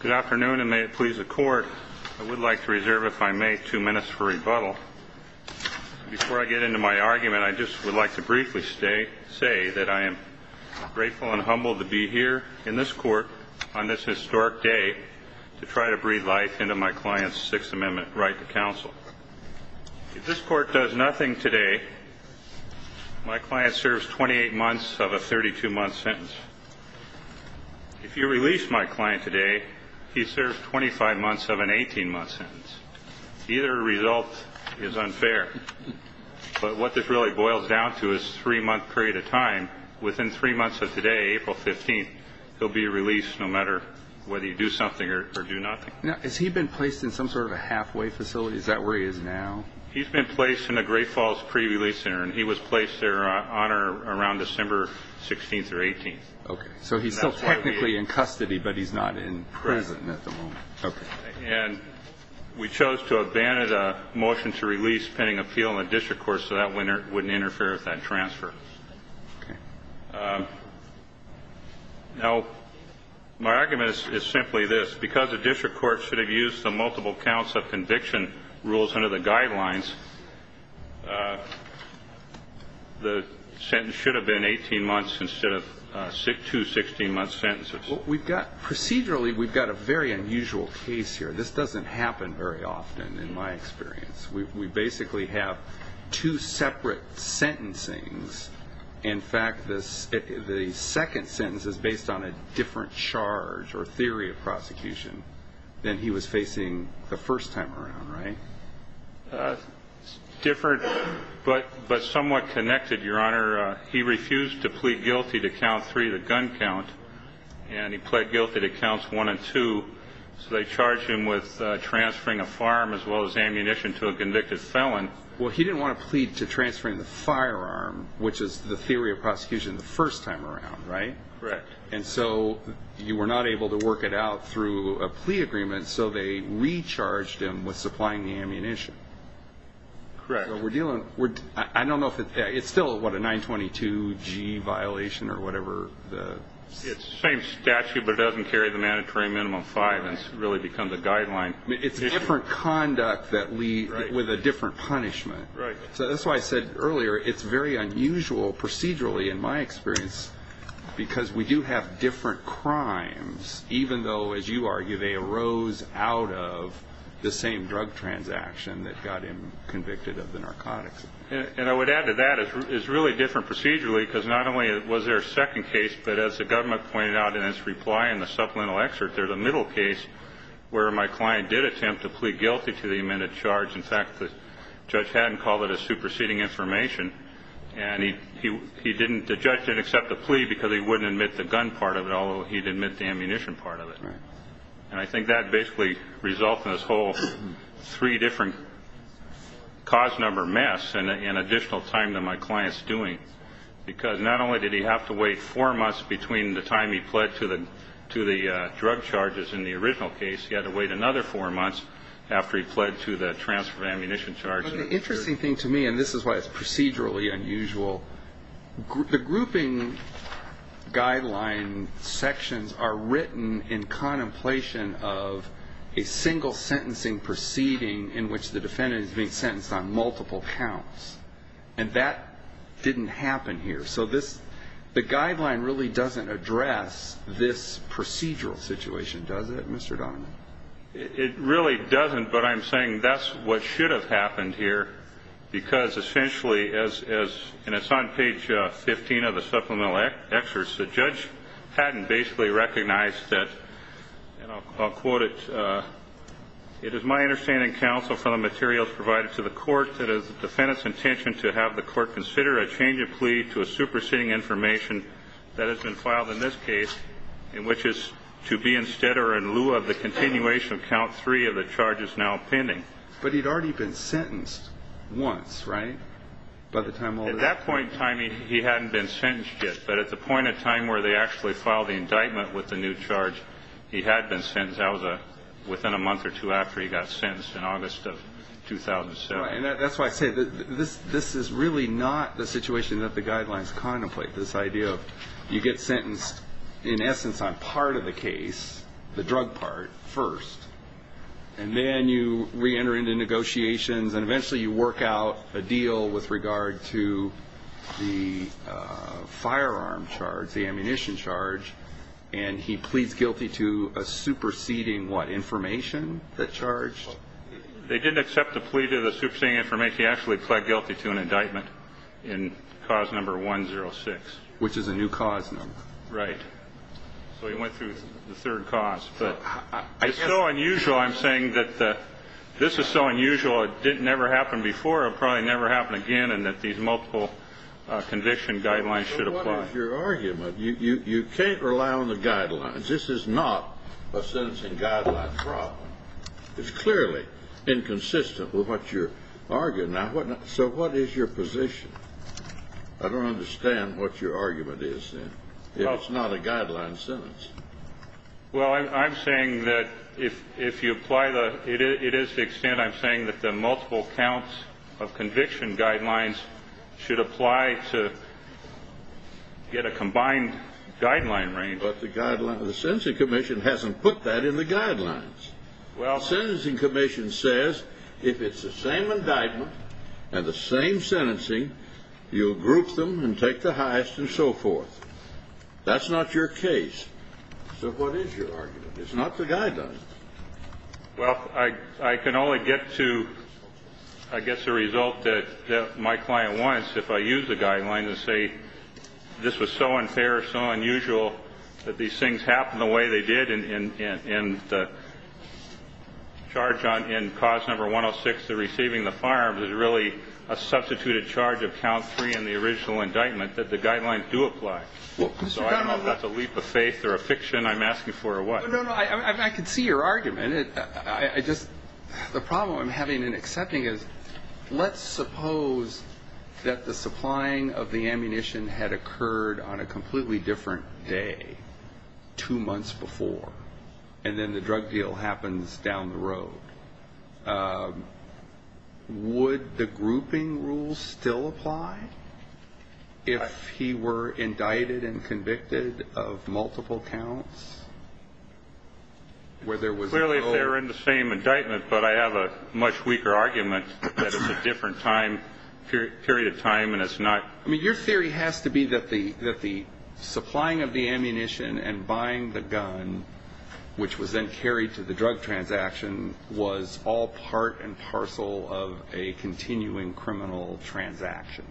Good afternoon and may it please the court I would like to reserve if I may two minutes for rebuttal before I get into my argument I just would like to briefly stay say that I am grateful and humbled to be here in this court on this historic day to try to breathe life into my client's sixth amendment right to counsel if this court does nothing today my client serves 28 months of a he served 25 months of an 18 month sentence either result is unfair but what this really boils down to is three month period of time within three months of today April 15th he'll be released no matter whether you do something or do nothing now has he been placed in some sort of a halfway facility is that where he is now he's been placed in the great falls pre-release center and he was placed there on or around December 16th or 18th okay so he's still technically in custody but he's not in prison at the moment okay and we chose to abandon a motion to release pending appeal in the district court so that winner wouldn't interfere with that transfer okay now my argument is simply this because the district court should have used the multiple counts of conviction rules under the guidelines the sentence should have been 18 months instead of six to 16 months sentences we've got procedurally we've got a very unusual case here this doesn't happen very often in my experience we basically have two separate sentencing's in fact this the second sentence is based on a different charge or theory of prosecution than he was facing the first time around right different but but somewhat connected your honor he refused to plead guilty to count three the gun count and he pled guilty to counts one and two so they charged him with transferring a firearm as well as ammunition to a convicted felon well he didn't want to plead to transferring the firearm which is the theory of prosecution the first time around right correct and so you were not able to work it out through a plea agreement so they recharged him with supplying the ammunition correct we're dealing with i don't know if it's still what a 922 g violation or whatever the same statute but it doesn't carry the mandatory minimum five it's really become the guideline it's different conduct that we with a different punishment right so that's why i said earlier it's very unusual procedurally in my experience because we do have different crimes even though as you argue they arose out of the is really different procedurally because not only was there a second case but as the government pointed out in its reply in the supplemental excerpt there's a middle case where my client did attempt to plead guilty to the amended charge in fact the judge hadn't called it a superseding information and he he he didn't the judge didn't accept the plea because he wouldn't admit the gun part of it although he'd admit the ammunition part of it right and i think that basically result in this whole three different cause number mess and an additional time than my client's doing because not only did he have to wait four months between the time he pled to the to the drug charges in the original case he had to wait another four months after he pled to the transfer of ammunition charge the interesting thing to me and this is why it's procedurally unusual the grouping guideline sections are written in contemplation of a single sentencing proceeding in which the defendant is being sentenced on multiple counts and that didn't happen here so this the guideline really doesn't address this procedural situation does it mr donovan it really doesn't but i'm saying that's what should have happened here because essentially as as and it's on page uh 15 of the supplemental excerpts the judge hadn't basically recognized that and i'll quote it uh it is my understanding counsel from the materials provided to the court that is the defendant's intention to have the court consider a change of plea to a superseding information that has been filed in this case in which is to be instead or in lieu of the continuation of count three of the charges now pending but he'd already been sentenced once right by the time at that point in time he hadn't been sentenced yet but at the point of time where they actually filed the indictment with the new charge he had been sentenced that was a within a month or two after he got sentenced in august of 2007 and that's why i said this this is really not the situation that the guidelines contemplate this idea of you get sentenced in essence on part of the case the drug part first and then you re-enter into negotiations and eventually you work out a deal with regard to the uh firearm charge the ammunition charge and he pleads guilty to a superseding what information that charged they didn't accept the plea to the superseding information he actually pled guilty to an indictment in cause number 106 which is a new cause number right so he went through the third cause but it's so unusual i'm saying that the this is so unusual it didn't ever happen before it'll probably never happen again and that these multiple uh conviction guidelines should apply your argument you you can't rely on the guidelines this is not a sentencing guideline problem it's clearly inconsistent with what you're arguing now what so what is your position i don't understand what your argument is then it's not a guideline sentence well i'm saying that if if you apply the it is the extent i'm saying that the multiple counts of conviction guidelines should apply to get a combined guideline range but the guideline the sentencing commission hasn't put that in the guidelines well sentencing commission says if it's the same indictment and the same sentencing you'll group them and take the highest and so forth that's not your case so what is your argument it's not the guidelines well i i can only get to i guess the result that my client wants if i use the guideline to say this was so unfair so unusual that these things happen the way they did in in in the charge on in cause number 106 to receiving the firearms is really a substituted charge of count three in the original indictment that the guidelines do apply so i don't know if that's a leap of faith or a fiction i'm asking for or what no no i i could see your argument i i just the problem i'm having in accepting is let's suppose that the supplying of the ammunition had occurred on a completely different day two months before and then the drug deal happens down the road would the grouping rules still apply if he were indicted and convicted of multiple counts where there was clearly if they were in the same indictment but i have a much weaker argument that it's a different time period of time and it's not i mean your theory has to be that the that the supplying of the ammunition and buying the gun which was then carried to the drug transaction was all part and parcel of a continuing criminal transaction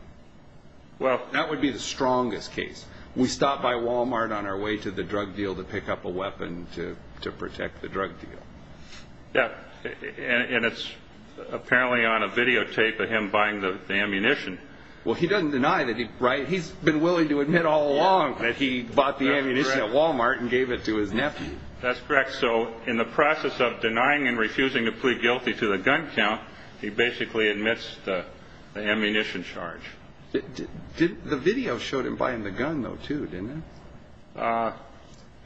well that would be the strongest case we stopped by walmart on our way to the drug deal to pick up a weapon to to protect the drug deal yeah and it's apparently on a videotape of him buying the ammunition well he doesn't deny that he right he's been willing to admit all along that he bought the ammunition at walmart and gave it to his nephew that's correct so in the process of denying and refusing to plead guilty to the gun count he basically admits the ammunition charge the video showed him buying the gun though too didn't it uh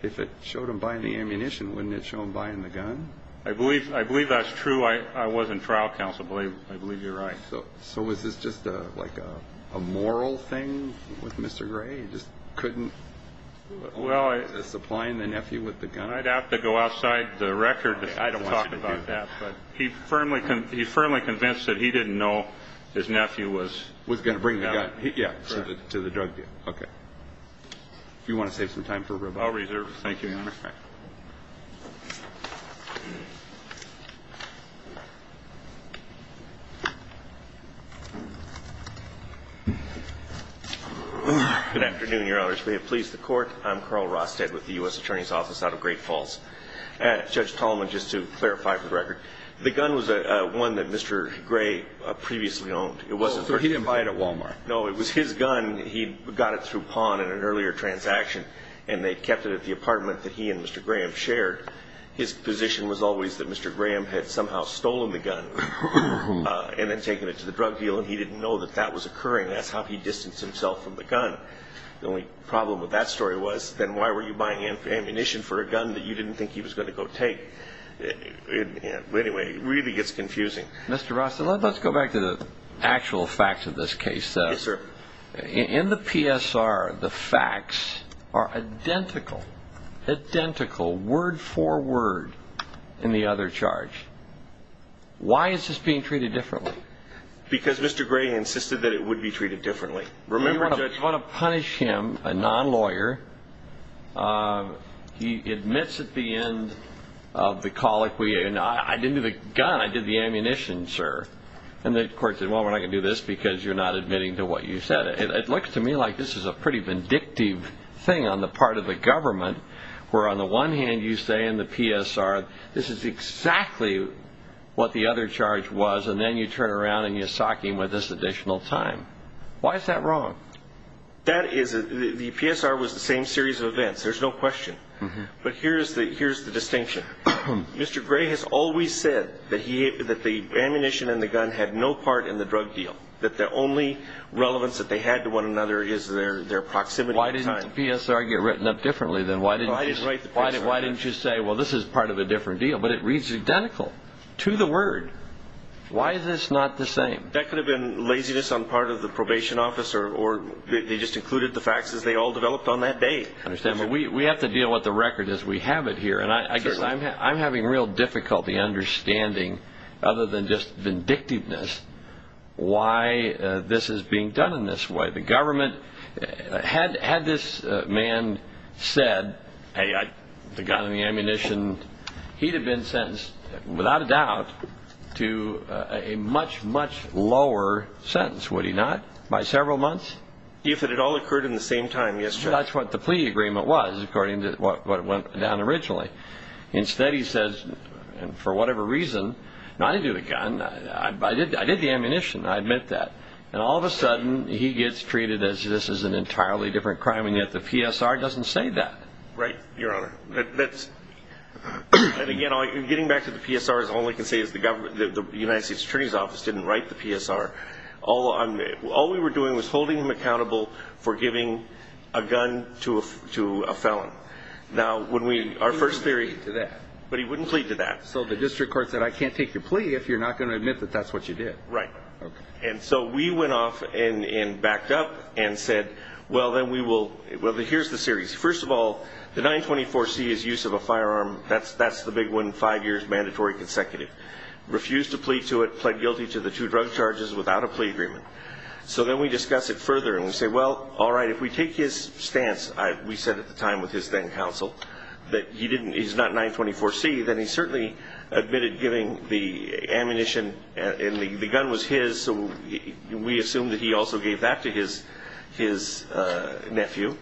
if it showed him buying the ammunition wouldn't it show him buying the gun i believe i believe that's true i i was in trial counsel i believe you're right so so was this just a like a a moral thing with mr gray he just couldn't well supplying the nephew with the gun i'd have to go outside the record i don't talk about that but he firmly can he firmly convinced that he didn't know his nephew was was going to bring yeah to the drug deal okay if you want to save some time for a robot i'll reserve thank you your honor good afternoon your honors we have pleased the court i'm carl rostead with the u.s attorney's office out of great falls and judge tallman just to clarify for the record the gun was a one that gray previously owned it wasn't so he didn't buy it at walmart no it was his gun he got it through pawn in an earlier transaction and they kept it at the apartment that he and mr graham shared his position was always that mr graham had somehow stolen the gun and then taken it to the drug deal and he didn't know that that was occurring that's how he distanced himself from the gun the only problem with that story was then why were you buying ammunition for a gun that you didn't think he was going to go take it anyway it really gets confusing mr ross let's go back to the actual facts of this case sir in the psr the facts are identical identical word for word in the other charge why is this being treated differently because mr gray insisted that it be treated differently remember you want to punish him a non-lawyer uh he admits at the end of the colloquy and i didn't do the gun i did the ammunition sir and the court said well we're not going to do this because you're not admitting to what you said it looks to me like this is a pretty vindictive thing on the part of the government where on the one hand you say in the psr this is exactly what the other charge was and then you turn around and you sock him with this additional time why is that wrong that is the psr was the same series of events there's no question but here's the here's the distinction mr gray has always said that he that the ammunition and the gun had no part in the drug deal that the only relevance that they had to one another is their their proximity why didn't the psr get written up differently then why didn't i just write why why didn't you say well this is part of a different deal but it reads identical to the word why is this not the same that could have been laziness on part of the probation officer or they just included the facts as they all developed on that day understand but we we have to deal with the record as we have it here and i guess i'm having real difficulty understanding other than just vindictiveness why this is being done in this way the government had had this man said hey i the gun and the ammunition he'd have been sentenced without a doubt to a much much lower sentence would he not by several months if it had all occurred in the same time yes that's what the plea agreement was according to what went down originally instead he says and for whatever reason now i didn't do the gun i i did i did the ammunition i admit that and all of a sudden he gets treated as this is an entirely different crime and yet the psr doesn't say that right your honor that's and again all you're getting back to the psr is all i can say is the government the united states attorney's office didn't write the psr all on all we were doing was holding him accountable for giving a gun to a to a felon now when we our first theory to that but he wouldn't plead to that so the district court said i can't your plea if you're not going to admit that that's what you did right okay and so we went off and and backed up and said well then we will well here's the series first of all the 924c is use of a firearm that's that's the big one five years mandatory consecutive refused to plead to it pled guilty to the two drug charges without a plea agreement so then we discuss it further and we say well all right if we take his stance i we said at the time with his then counsel that he didn't he's 924c then he certainly admitted giving the ammunition and the gun was his so we assumed that he also gave that to his his nephew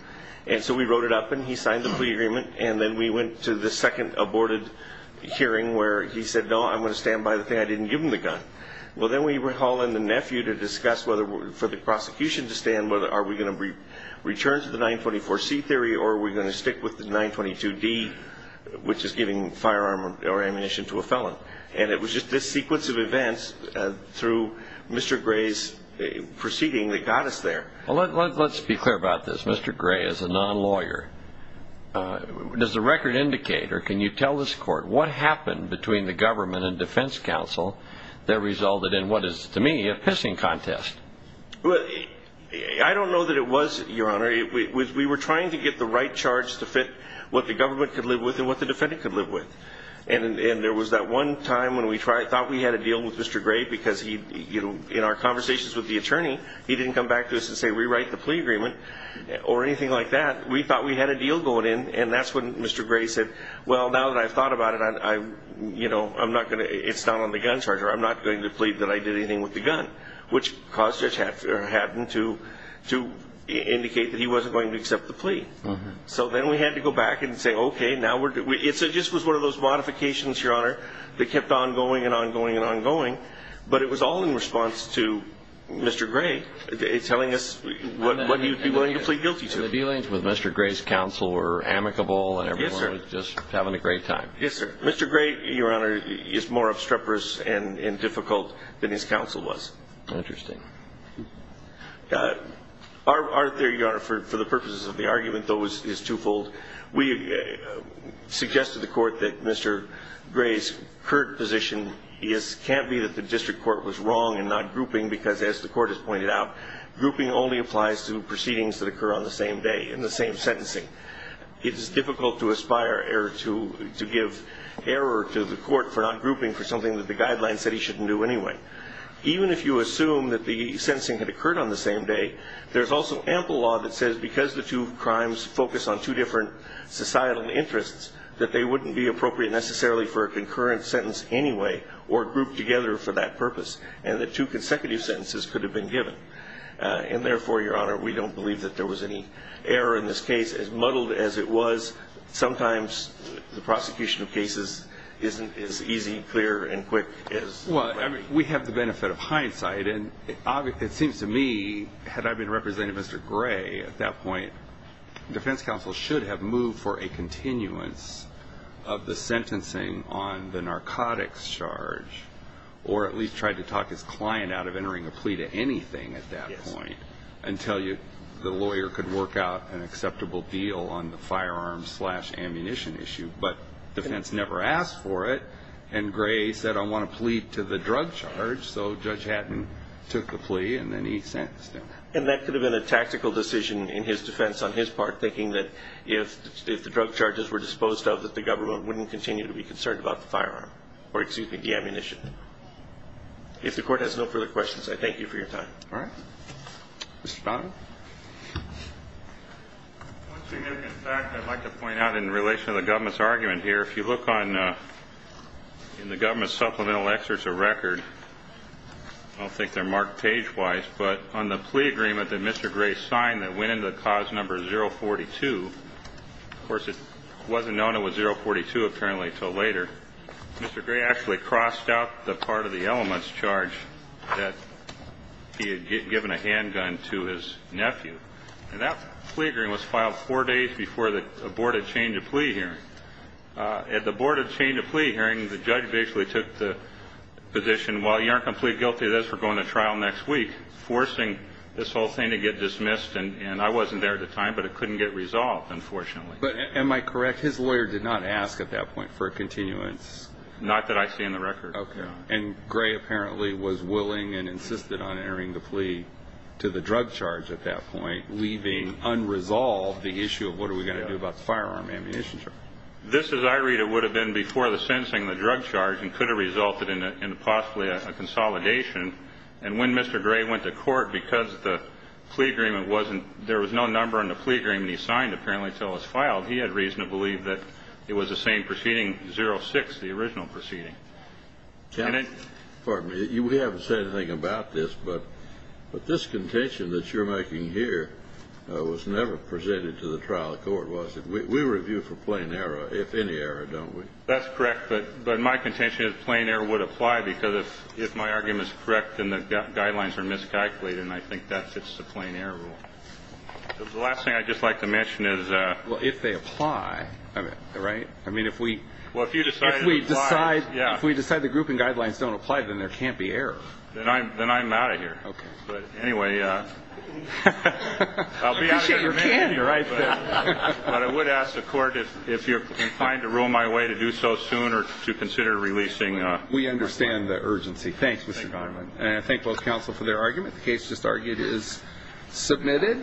and so we wrote it up and he signed the plea agreement and then we went to the second aborted hearing where he said no i'm going to stand by the thing i didn't give him the gun well then we were hauling the nephew to discuss whether for the prosecution to stand whether are we going to return to the 924c theory or are we going to stick with the 922d which is giving firearm or ammunition to a felon and it was just this sequence of events through mr gray's proceeding that got us there well let's be clear about this mr gray is a non-lawyer does the record indicate or can you tell this court what happened between the government and defense council that resulted in what is to me a pissing contest well i don't know that it was your honor it was we were trying to get the right charge to fit what the government could live with and what the defendant could live with and and there was that one time when we tried thought we had a deal with mr gray because he you know in our conversations with the attorney he didn't come back to us and say rewrite the plea agreement or anything like that we thought we had a deal going in and that's when mr gray said well now that i've thought about it i i you know i'm not going to it's not on the gun charger i'm not going to plead that i did anything with the gun which caused us to happen to to indicate that he wasn't going to accept the plea so then we had to go back and say okay now we're it just was one of those modifications your honor that kept on going and on going and on going but it was all in response to mr gray telling us what what you'd be willing to plead guilty to the dealings with mr gray's counsel were amicable and everyone was just having a great time yes sir mr gray your honor is more obstreperous and and difficult than his counsel was interesting uh are there your honor for the purposes of the argument those is twofold we suggested the court that mr gray's current position is can't be that the district court was wrong and not grouping because as the court has pointed out grouping only applies to proceedings that occur on the same day in the same sentencing it is difficult to aspire error to to give error to the court for not grouping for something that the guidelines said he shouldn't do anyway even if you assume that the sensing had occurred on the same day there's also ample law that says because the two crimes focus on two different societal interests that they wouldn't be appropriate necessarily for a concurrent sentence anyway or grouped together for that purpose and the two consecutive sentences could have been given and therefore your honor we don't believe that there was any error in this case as muddled as it was sometimes the prosecution of we have the benefit of hindsight and obviously it seems to me had i been represented mr gray at that point defense counsel should have moved for a continuance of the sentencing on the narcotics charge or at least tried to talk his client out of entering a plea to anything at that point until you the lawyer could work out an acceptable deal on the firearm slash ammunition issue but defense never asked for it and gray said i want to plead to the drug charge so judge hatton took the plea and then he sentenced him and that could have been a tactical decision in his defense on his part thinking that if if the drug charges were disposed of that the government wouldn't continue to be concerned about the firearm or excuse me the ammunition if the court has no further questions i thank you for your time all right mr bonham once you get back i'd like to here if you look on uh in the government supplemental excerpts of record i don't think they're marked page wise but on the plea agreement that mr gray signed that went into the cause number 042 of course it wasn't known it was 042 apparently until later mr gray actually crossed out the part of the elements charge that he had given a handgun to his nephew and that plea was filed four days before the board had changed a plea hearing at the board had changed a plea hearing the judge basically took the position while you aren't completely guilty of this we're going to trial next week forcing this whole thing to get dismissed and and i wasn't there at the time but it couldn't get resolved unfortunately but am i correct his lawyer did not ask at that point for a continuance not that i see in the record okay and gray apparently was willing and issue of what are we going to do about firearm ammunition this is i read it would have been before the sensing the drug charge and could have resulted in a possibly a consolidation and when mr gray went to court because the plea agreement wasn't there was no number on the plea agreement he signed apparently till it's filed he had reason to believe that it was the same proceeding 06 the original proceeding pardon me we haven't said anything about this but this contention that you're making here was never presented to the trial court was it we review for plain error if any error don't we that's correct but but my contention is plain error would apply because if if my argument is correct and the guidelines are miscalculated and i think that fits the plain error rule the last thing i'd just like to mention is uh well if they apply right i mean if we well if you decide we decide yeah if we decide the grouping guidelines don't apply then there can't be error then i'm then i'm out of here okay but anyway uh i'll be out of here you're right but i would ask the court if if you're inclined to rule my way to do so soon or to consider releasing uh we understand the urgency thanks and i thank both counsel for their argument the case just argued is submitted